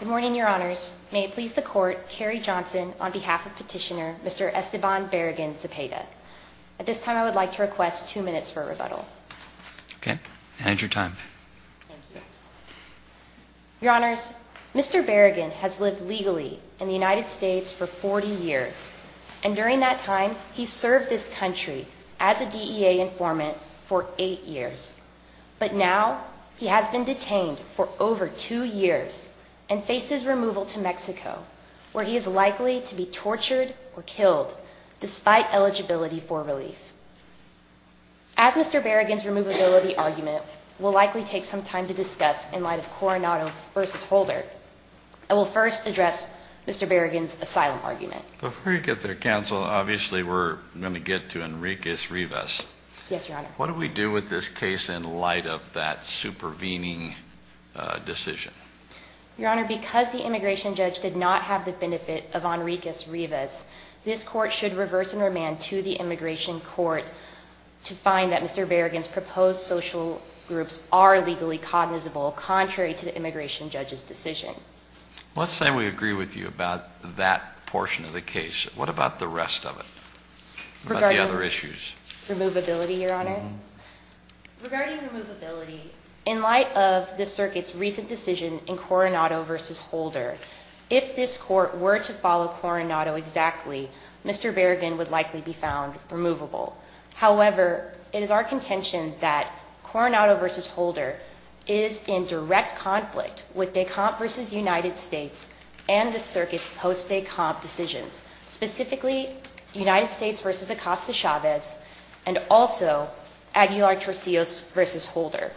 Good morning, Your Honors. May it please the Court, Kerry Johnson, on behalf of Petitioner Mr. Esteban Barragan-Zepeda. At this time, I would like to request two minutes for a rebuttal. Okay. Manage your time. Thank you. Your Honors, Mr. Barragan has lived legally in the United States for 40 years. And during that time, he served this country as a DEA informant for eight years. But now, he has been detained for over two years and faces removal to Mexico, where he is likely to be tortured or killed, despite eligibility for relief. As Mr. Barragan's removability argument will likely take some time to discuss in light of Coronado v. Holder, I will first address Mr. Barragan's asylum argument. Before you get there, Counsel, obviously we're going to get to Enriquez Rivas. Yes, Your Honor. What do we do with this case in light of that supervening decision? Your Honor, because the immigration judge did not have the benefit of Enriquez Rivas, this Court should reverse and remand to the immigration court to find that Mr. Barragan's proposed social groups are legally cognizable, contrary to the immigration judge's decision. Let's say we agree with you about that portion of the case. What about the rest of it? About the other issues. Removability, Your Honor? Regarding removability, in light of the circuit's recent decision in Coronado v. Holder, if this Court were to follow Coronado exactly, Mr. Barragan would likely be found removable. However, it is our contention that Coronado v. Holder is in direct conflict with DECOMP v. United States and the circuit's post-DECOMP decisions. Specifically, United States v. Acosta-Chavez and also Aguilar-Torcillos v. Holder.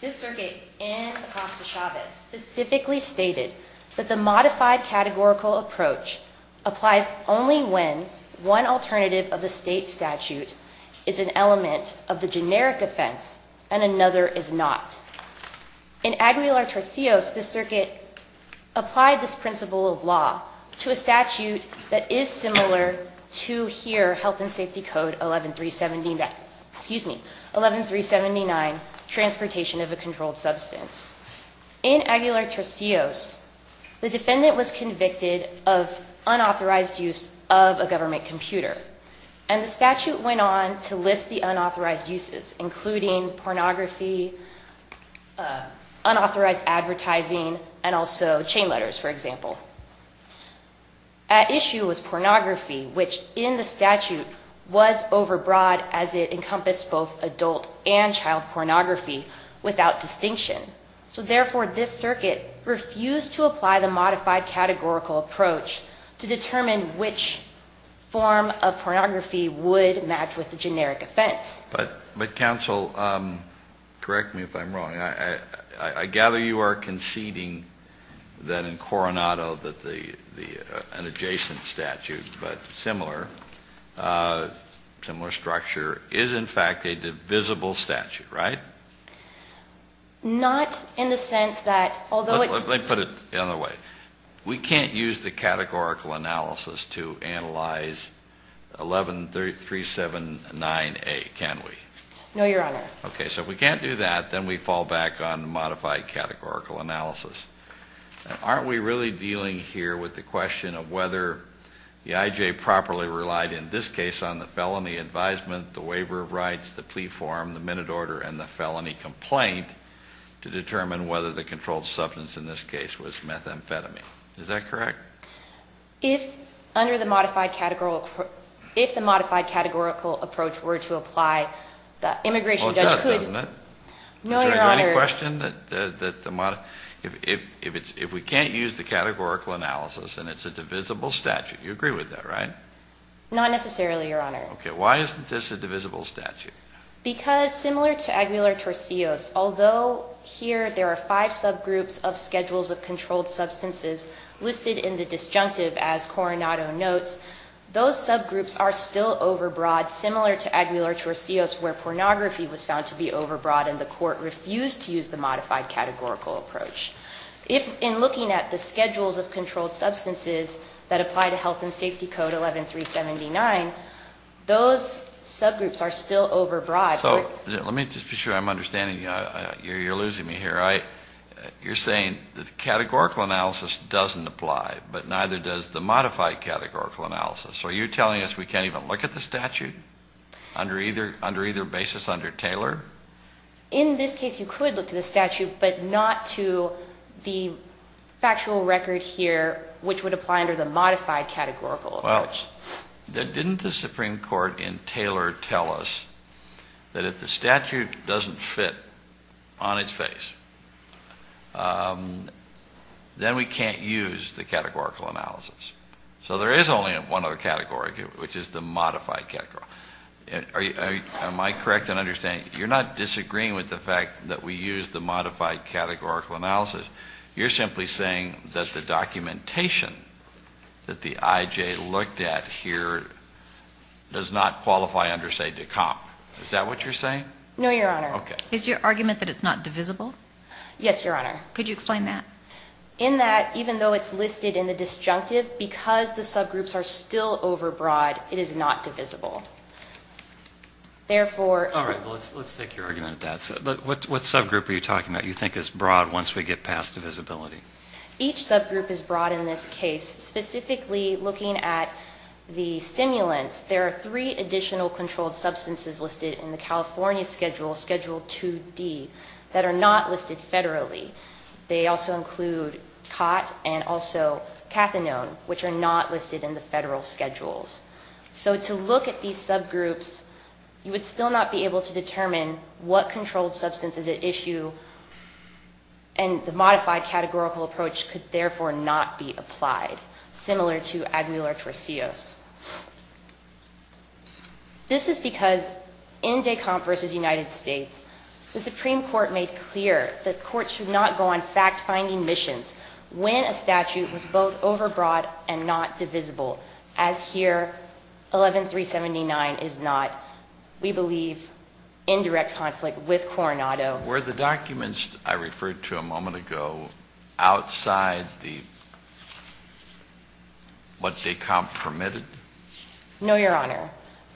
This circuit in Acosta-Chavez specifically stated that the modified categorical approach applies only when one alternative of the state statute is an element of the generic offense and another is not. In Aguilar-Torcillos, the circuit applied this principle of law to a statute that is similar to here, Health and Safety Code 11379, Transportation of a Controlled Substance. In Aguilar-Torcillos, the defendant was convicted of unauthorized use of a government computer. And the statute went on to list the unauthorized uses, including pornography, unauthorized advertising, and also chain letters, for example. At issue was pornography, which in the statute was overbroad as it encompassed both adult and child pornography without distinction. So therefore, this circuit refused to apply the modified categorical approach to determine which form of pornography would match with the generic offense. But counsel, correct me if I'm wrong. I gather you are conceding that in Coronado that an adjacent statute, but similar, similar structure, is in fact a divisible statute, right? Not in the sense that, although it's... Let me put it the other way. We can't use the categorical analysis to analyze 11379A, can we? No, Your Honor. Okay, so if we can't do that, then we fall back on modified categorical analysis. Aren't we really dealing here with the question of whether the I.J. properly relied in this case on the felony advisement, the waiver of rights, the plea form, the minute order, and the felony complaint to determine whether the controlled substance in this case was methamphetamine? Is that correct? If under the modified categorical... If the modified categorical approach were to apply, the immigration judge could... Well, it does, doesn't it? No, Your Honor. Is there any question that the modified... If we can't use the categorical analysis and it's a divisible statute, you agree with that, right? Not necessarily, Your Honor. Okay, why isn't this a divisible statute? Because similar to Aguilar-Torcillos, although here there are five subgroups of schedules of controlled substances listed in the disjunctive as Coronado notes, those subgroups are still overbroad, similar to Aguilar-Torcillos where pornography was found to be overbroad and the court refused to use the modified categorical approach. If in looking at the schedules of controlled substances that apply to Health and Safety Code 11379, those subgroups are still overbroad. So let me just be sure I'm understanding you. You're losing me here. You're saying the categorical analysis doesn't apply, but neither does the modified categorical analysis. So are you telling us we can't even look at the statute under either basis under Taylor? In this case, you could look to the statute, but not to the factual record here, which would apply under the modified categorical approach. Didn't the Supreme Court in Taylor tell us that if the statute doesn't fit on its face, then we can't use the categorical analysis? So there is only one other category, which is the modified categorical. Am I correct in understanding, you're not disagreeing with the fact that we use the modified categorical analysis. You're simply saying that the documentation that the IJ looked at here does not qualify under, say, DECOMP. Is that what you're saying? No, Your Honor. Okay. Is your argument that it's not divisible? Yes, Your Honor. Could you explain that? In that, even though it's listed in the disjunctive, because the subgroups are still overbroad, it is not divisible. Therefore... All right. Well, let's take your argument at that. What subgroup are you talking about you think is broad once we get past divisibility? Each subgroup is broad in this case, specifically looking at the stimulants. There are three additional controlled substances listed in the California schedule, Schedule 2D, that are not listed federally. They also include COT and also cathinone, which are not listed in the federal schedules. So to look at these subgroups, you would still not be able to determine what controlled substance is at issue, and the modified categorical approach could therefore not be applied, similar to Agnular-Torsios. This is because in DECOMP v. United States, the Supreme Court made clear that courts should not go on fact-finding missions when a statute was both overbroad and not divisible, as here, 11379 is not, we believe, in direct conflict with Coronado. Were the documents I referred to a moment ago outside the... what DECOMP permitted? No, Your Honor.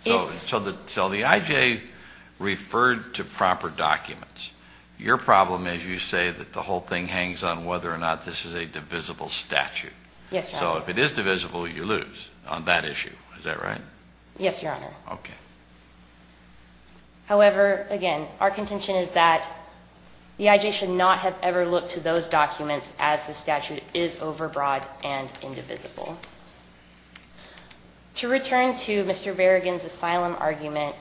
So the IJ referred to proper documents. Your problem is you say that the whole thing hangs on whether or not this is a divisible statute. Yes, Your Honor. So if it is divisible, you lose on that issue, is that right? Yes, Your Honor. Okay. However, again, our contention is that the IJ should not have ever looked to those documents as the statute is overbroad and indivisible. To return to Mr. Berrigan's asylum argument,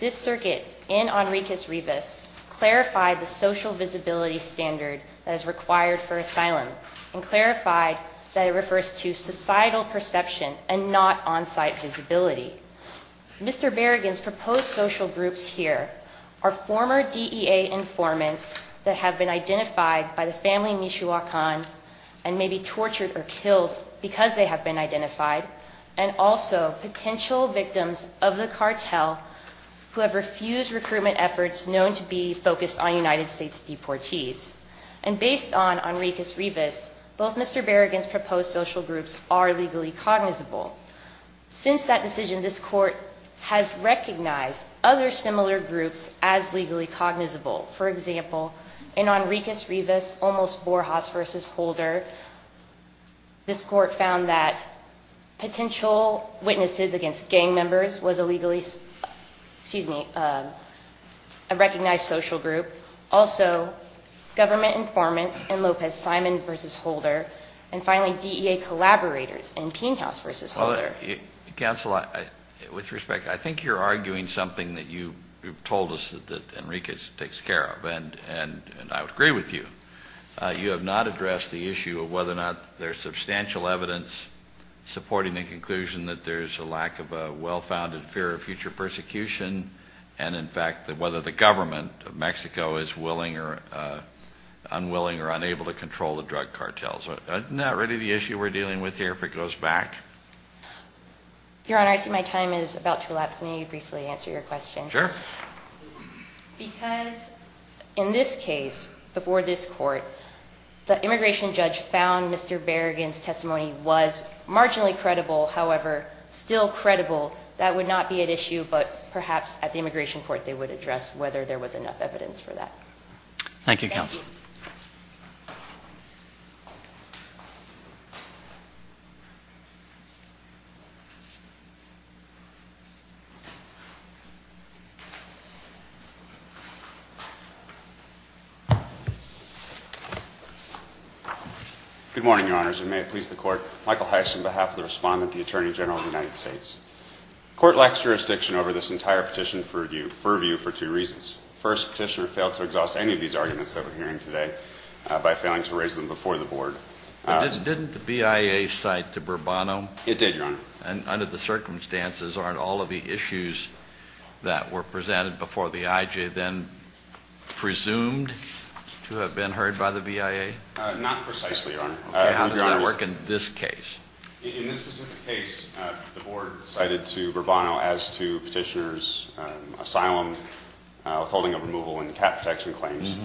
this circuit in Henriques Rivas clarified the social visibility standard that is required for asylum and clarified that it refers to societal perception and not on-site visibility. Mr. Berrigan's proposed social groups here are former DEA informants that have been identified by the family Michoacan and may be tortured or killed because they have been identified, and also potential victims of the cartel who have refused recruitment efforts known to be focused on United States deportees. And based on Henriques Rivas, both Mr. Berrigan's proposed social groups are legally cognizable. Since that decision, this Court has recognized other similar groups as legally cognizable. For example, in Henriques Rivas, Olmos Borjas v. Holder, this Court found that potential witnesses against gang members was a legally excuse me, a recognized social group. Also, government informants in Lopez Simon v. Holder, and finally DEA collaborators in Pinchas v. Holder. Counsel, with respect, I think you're arguing something that you told us that Henriques takes care of, and I would agree with you. You have not addressed the issue of whether or not there's substantial evidence supporting the conclusion that there's a lack of a well-founded fear of future persecution and, in fact, whether the government of Mexico is willing or unwilling or unable to control the drug cartels. Isn't that really the issue we're dealing with here if it goes back? Your Honor, I see my time is about to elapse. May you briefly answer your question? Sure. Because in this case, before this Court, the immigration judge found Mr. Berrigan's testimony was marginally credible. However, still credible, that would not be at issue, but perhaps at the immigration court they would address whether there was enough evidence for that. Thank you, counsel. Thank you. Thank you. Good morning, Your Honors, and may it please the Court. Michael Heiss on behalf of the respondent, the Attorney General of the United States. The Court lacks jurisdiction over this entire petition for review for two reasons. First, Petitioner failed to exhaust any of these arguments that we're hearing today by failing to raise them before the Board. Didn't the BIA cite to Bourbono? It did, Your Honor. And under the circumstances, aren't all of the issues that were presented before the IJ then presumed to have been heard by the BIA? Not precisely, Your Honor. Okay. How does that work in this case? In this specific case, the Board cited to Bourbono as to Petitioner's asylum withholding of removal and cap protection claims,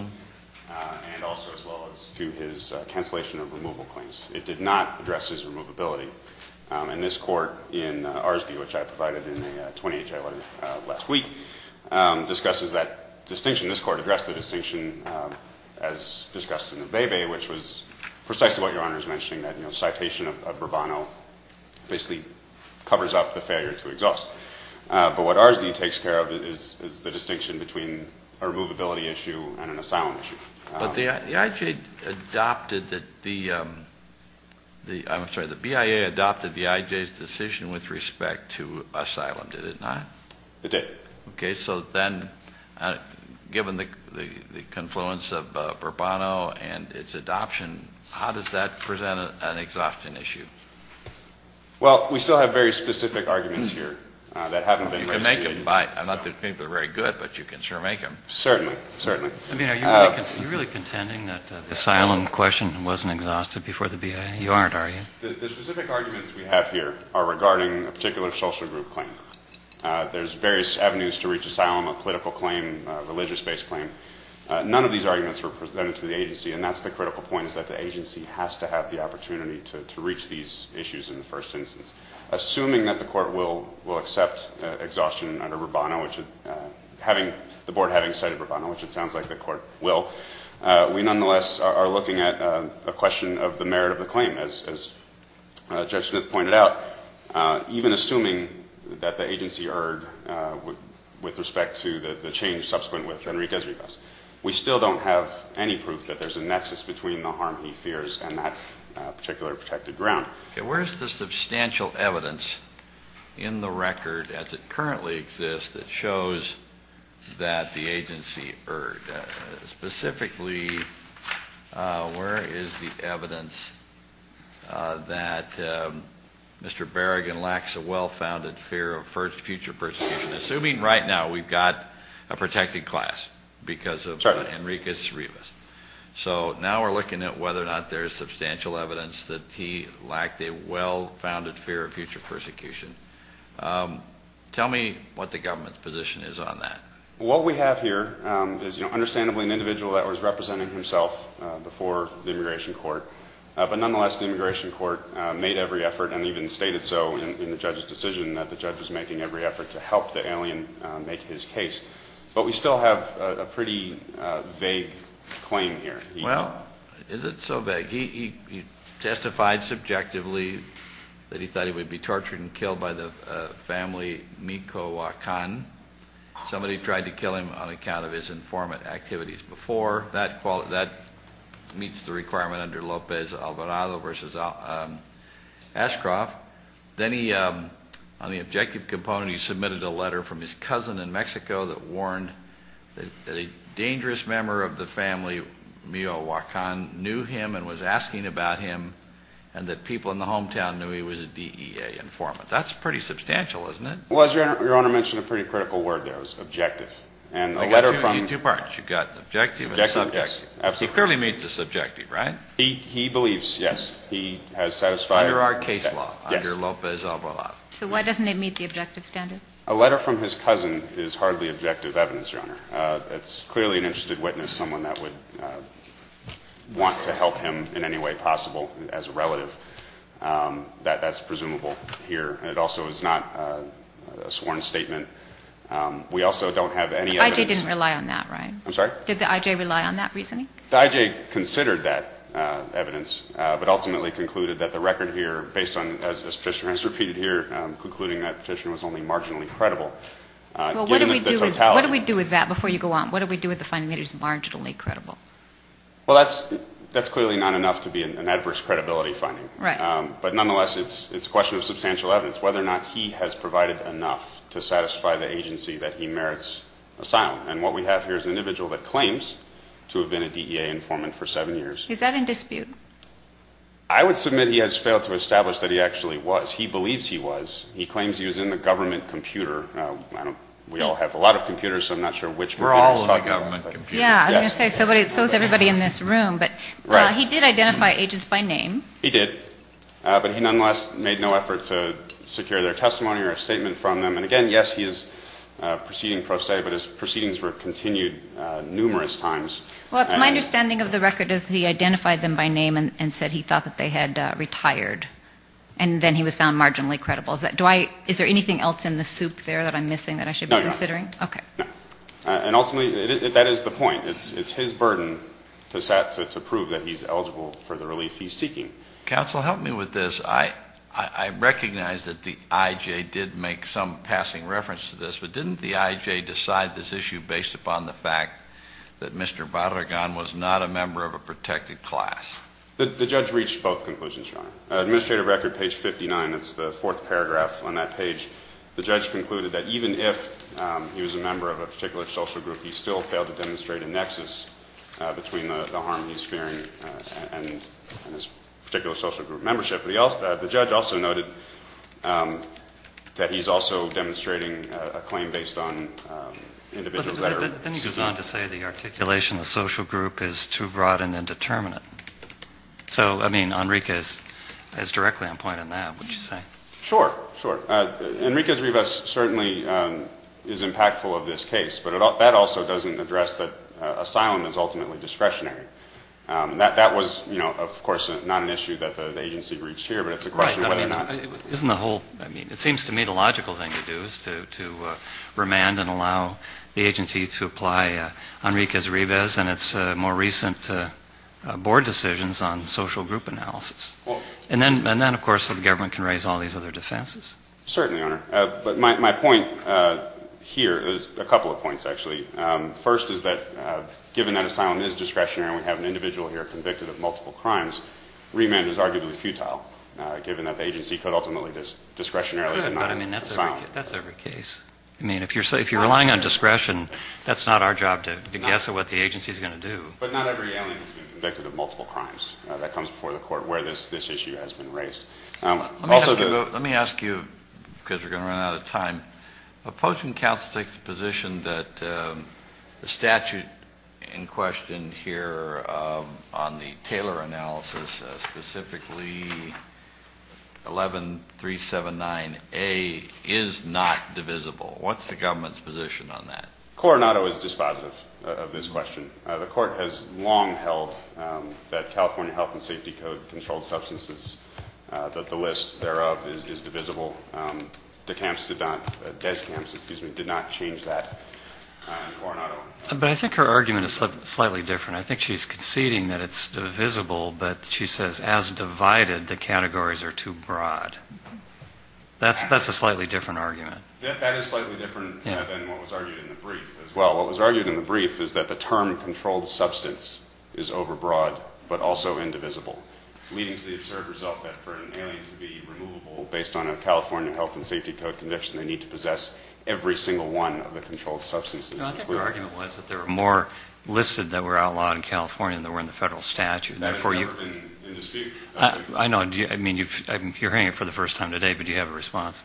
and also as well as to his cancellation of removal claims. It did not address his removability. And this Court in Arsby, which I provided in a 28-J letter last week, discusses that distinction. This Court addressed the distinction as discussed in the Vevey, which was precisely what Your Honor is mentioning, that, you know, citation of Bourbono basically covers up the failure to exhaust. But what Arsby takes care of is the distinction between a removability issue and an asylum issue. But the IJ adopted the – I'm sorry, the BIA adopted the IJ's decision with respect to asylum, did it not? It did. Okay. So then, given the confluence of Bourbono and its adoption, how does that present an exhaustion issue? Well, we still have very specific arguments here that haven't been received. You can make them. I'm not to think they're very good, but you can sure make them. Certainly. Certainly. I mean, are you really contending that the asylum question wasn't exhausted before the BIA? You aren't, are you? The specific arguments we have here are regarding a particular social group claim. There's various avenues to reach asylum, a political claim, a religious-based claim. None of these arguments were presented to the agency, and that's the critical point, is that the agency has to have the opportunity to reach these issues in the first instance. Assuming that the Court will accept exhaustion under Bourbono, which it – having – the Board having cited Bourbono, which it sounds like the Court will, we nonetheless are looking at a question of the merit of the claim. As Judge Smith pointed out, even assuming that the agency erred with respect to the change subsequent with Enrique Ezriquez, we still don't have any proof that there's a nexus between the harm he fears and that particular protected ground. Okay. Where is the substantial evidence in the record as it currently exists that shows that the agency erred? Specifically, where is the evidence that Mr. Berrigan lacks a well-founded fear of future persecution? Assuming right now we've got a protected class because of Enrique Ezriquez. So now we're looking at whether or not there's substantial evidence that he lacked a well-founded fear of future persecution. Tell me what the government's position is on that. Well, what we have here is, you know, understandably an individual that was representing himself before the Immigration Court. But nonetheless, the Immigration Court made every effort and even stated so in the judge's decision that the judge was making every effort to help the alien make his case. But we still have a pretty vague claim here. Well, is it so vague? He testified subjectively that he thought he would be tortured and killed by the family Mico-Wakan. Somebody tried to kill him on account of his informant activities before. That meets the requirement under Lopez-Alvarado v. Ashcroft. Then on the objective component, he submitted a letter from his cousin in Mexico that warned that a dangerous member of the family Mico-Wakan knew him and was asking about him and that people in the hometown knew he was a DEA informant. That's pretty substantial, isn't it? Well, as Your Honor mentioned a pretty critical word there. It was objective. You've got two parts. You've got objective and subjective. He clearly meets the subjective, right? He believes, yes, he has satisfied. Under our case law, under Lopez-Alvarado. So why doesn't it meet the objective standard? A letter from his cousin is hardly objective evidence, Your Honor. It's clearly an interested witness, someone that would want to help him in any way possible as a relative. That's presumable here. It also is not a sworn statement. We also don't have any evidence. The I.J. didn't rely on that, right? I'm sorry? Did the I.J. rely on that reasoning? The I.J. considered that evidence but ultimately concluded that the record here, based on, as the Petitioner has repeated here, concluding that petition was only marginally credible. Well, what do we do with that before you go on? What do we do with the finding that it is marginally credible? Well, that's clearly not enough to be an adverse credibility finding. Right. But nonetheless, it's a question of substantial evidence, whether or not he has provided enough to satisfy the agency that he merits asylum. And what we have here is an individual that claims to have been a DEA informant for seven years. Is that in dispute? I would submit he has failed to establish that he actually was. He believes he was. He claims he was in the government computer. We all have a lot of computers, so I'm not sure which computer he's talking about. We're all in the government computer. Yeah, I was going to say, so is everybody in this room. But he did identify agents by name. He did. But he nonetheless made no effort to secure their testimony or a statement from them. And again, yes, he is proceeding pro se, but his proceedings were continued numerous times. Well, my understanding of the record is he identified them by name and said he thought that they had retired. And then he was found marginally credible. Is there anything else in the soup there that I'm missing that I should be considering? No, no. Okay. No. And ultimately, that is the point. It's his burden to prove that he's eligible for the relief he's seeking. Counsel, help me with this. I recognize that the I.J. did make some passing reference to this, but didn't the I.J. decide this issue based upon the fact that Mr. Barragan was not a member of a protected class? The judge reached both conclusions, Your Honor. Administrative record, page 59, that's the fourth paragraph on that page. The judge concluded that even if he was a member of a particular social group, he still failed to demonstrate a nexus between the harm he's fearing and his particular social group membership. But the judge also noted that he's also demonstrating a claim based on individuals that are suitors. But then he goes on to say the articulation of the social group is too broad and indeterminate. So, I mean, Enrique is directly on point in that, wouldn't you say? Sure, sure. Enrique's Rivas certainly is impactful of this case, but that also doesn't address that asylum is ultimately discretionary. That was, you know, of course, not an issue that the agency reached here, but it's a question of whether or not. Right. Isn't the whole, I mean, it seems to me the logical thing to do is to remand and allow the agency to apply Enrique's Rivas and its more recent board decisions on social group analysis. And then, of course, the government can raise all these other defenses. Certainly, Your Honor. But my point here is a couple of points, actually. First is that given that asylum is discretionary and we have an individual here convicted of multiple crimes, remand is arguably futile given that the agency could ultimately discretionarily deny asylum. But, I mean, that's every case. I mean, if you're relying on discretion, that's not our job to guess at what the agency is going to do. But not every alien has been convicted of multiple crimes. That comes before the court where this issue has been raised. Let me ask you, because we're going to run out of time, the Post and Counsel take the position that the statute in question here on the Taylor analysis, specifically 11379A, is not divisible. What's the government's position on that? Coronado is dispositive of this question. The court has long held that California Health and Safety Code controlled substances, that the list thereof is divisible. Descamps did not change that. Coronado? But I think her argument is slightly different. I think she's conceding that it's divisible, but she says as divided, the categories are too broad. That's a slightly different argument. That is slightly different than what was argued in the brief as well. What was argued in the brief is that the term controlled substance is overbroad, but also indivisible, leading to the absurd result that for an alien to be removable based on a California Health and Safety Code conviction, they need to possess every single one of the controlled substances. I think her argument was that there were more listed that were outlawed in California than there were in the federal statute. That has never been in dispute. I know. I mean, you're hearing it for the first time today, but do you have a response?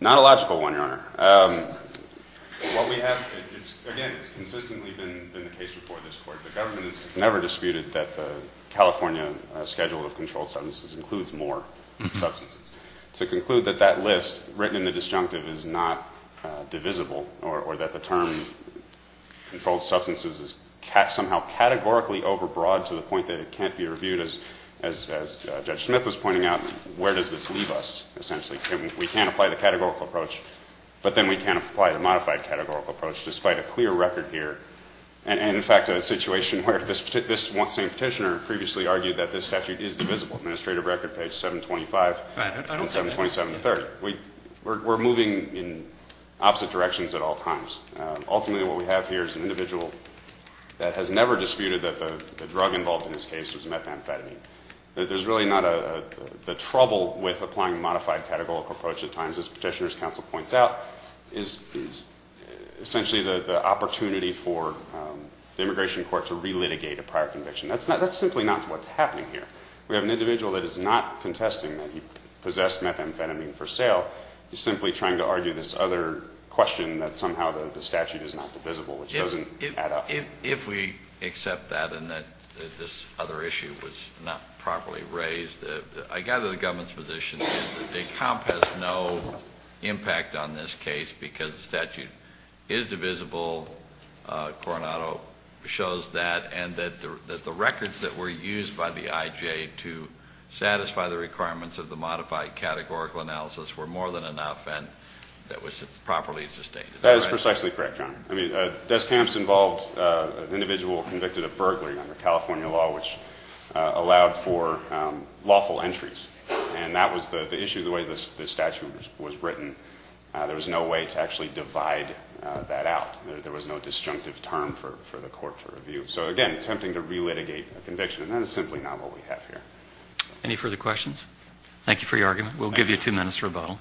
Not a logical one, Your Honor. What we have, again, it's consistently been the case before this Court, the government has never disputed that the California schedule of controlled substances includes more substances. To conclude that that list written in the disjunctive is not divisible, or that the term controlled substances is somehow categorically overbroad to the point that it can't be reviewed, as Judge Smith was pointing out, where does this leave us, essentially? We can't apply the categorical approach, but then we can't apply the modified categorical approach, despite a clear record here. And, in fact, a situation where this one same petitioner previously argued that this statute is divisible. Administrative record page 725 on 727-3. We're moving in opposite directions at all times. Ultimately, what we have here is an individual that has never disputed that the drug involved in this case was methamphetamine. There's really not a, the trouble with applying a modified categorical approach at times, as Petitioner's Counsel points out, is essentially the opportunity for the immigration court to relitigate a prior conviction. That's simply not what's happening here. We have an individual that is not contesting that he possessed methamphetamine for sale. He's simply trying to argue this other question that somehow the statute is not divisible, which doesn't add up. If we accept that and that this other issue was not properly raised, I gather the government's position is that the comp has no impact on this case because the statute is divisible. Coronado shows that, and that the records that were used by the IJ to satisfy the requirements of the modified categorical analysis were more than enough, and that was properly sustained. I mean, desk camps involved an individual convicted of burglary under California law, which allowed for lawful entries. And that was the issue, the way the statute was written. There was no way to actually divide that out. There was no disjunctive term for the court to review. So, again, attempting to relitigate a conviction, and that is simply not what we have here. Any further questions? Thank you for your argument. We'll give you two minutes for rebuttal.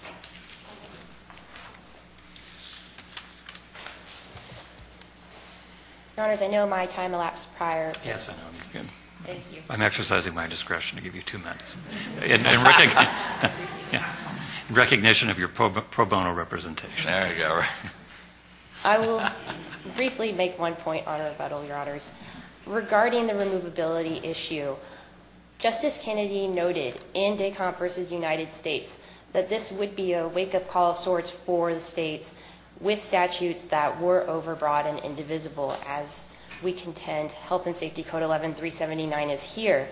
Your Honors, I know my time elapsed prior. Yes, I know. Thank you. I'm exercising my discretion to give you two minutes in recognition of your pro bono representation. There you go. Regarding the removability issue, Justice Kennedy noted in Des Camps v. United States that this would be a wake-up call of sorts for the states with statutes that were overbroad and indivisible, as we contend Health and Safety Code 11-379 is here.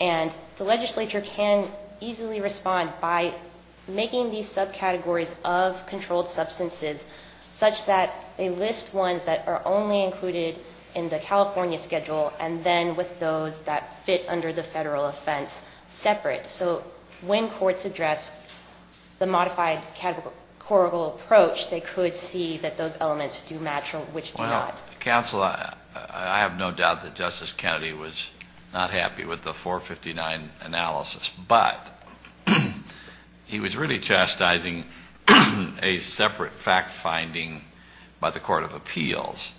And the legislature can easily respond by making these subcategories of controlled substances such that they list ones that are only included in the California schedule and then with those that fit under the federal offense separate. So when courts address the modified categorical approach, they could see that those elements do match, which do not. Counsel, I have no doubt that Justice Kennedy was not happy with the 459 analysis, but he was really chastising a separate fact-finding by the Court of Appeals.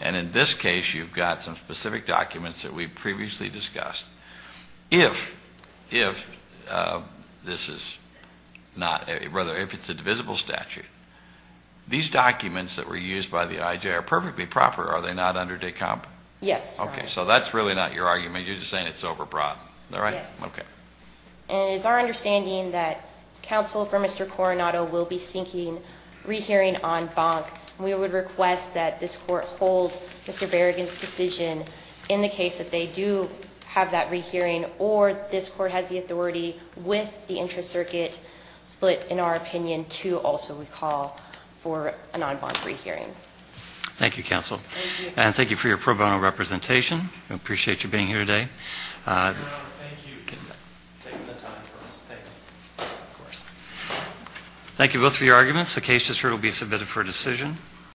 And in this case, you've got some specific documents that we've previously discussed. If this is not – rather, if it's a divisible statute, these documents that were used by the IJ are perfectly proper. Are they not under Des Camps? Yes. Okay. So that's really not your argument. You're just saying it's overbroad. Is that right? Yes. Okay. And it's our understanding that counsel for Mr. Coronado will be seeking rehearing en banc. We would request that this Court hold Mr. Berrigan's decision in the case that they do have that rehearing or this Court has the authority with the interest circuit split, in our opinion, to also recall for an en banc rehearing. Thank you, counsel. Thank you. And thank you for your pro bono representation. We appreciate you being here today. Your Honor, thank you for taking the time for us. Thanks. Of course. Thank you both for your arguments. The case just heard will be submitted for decision.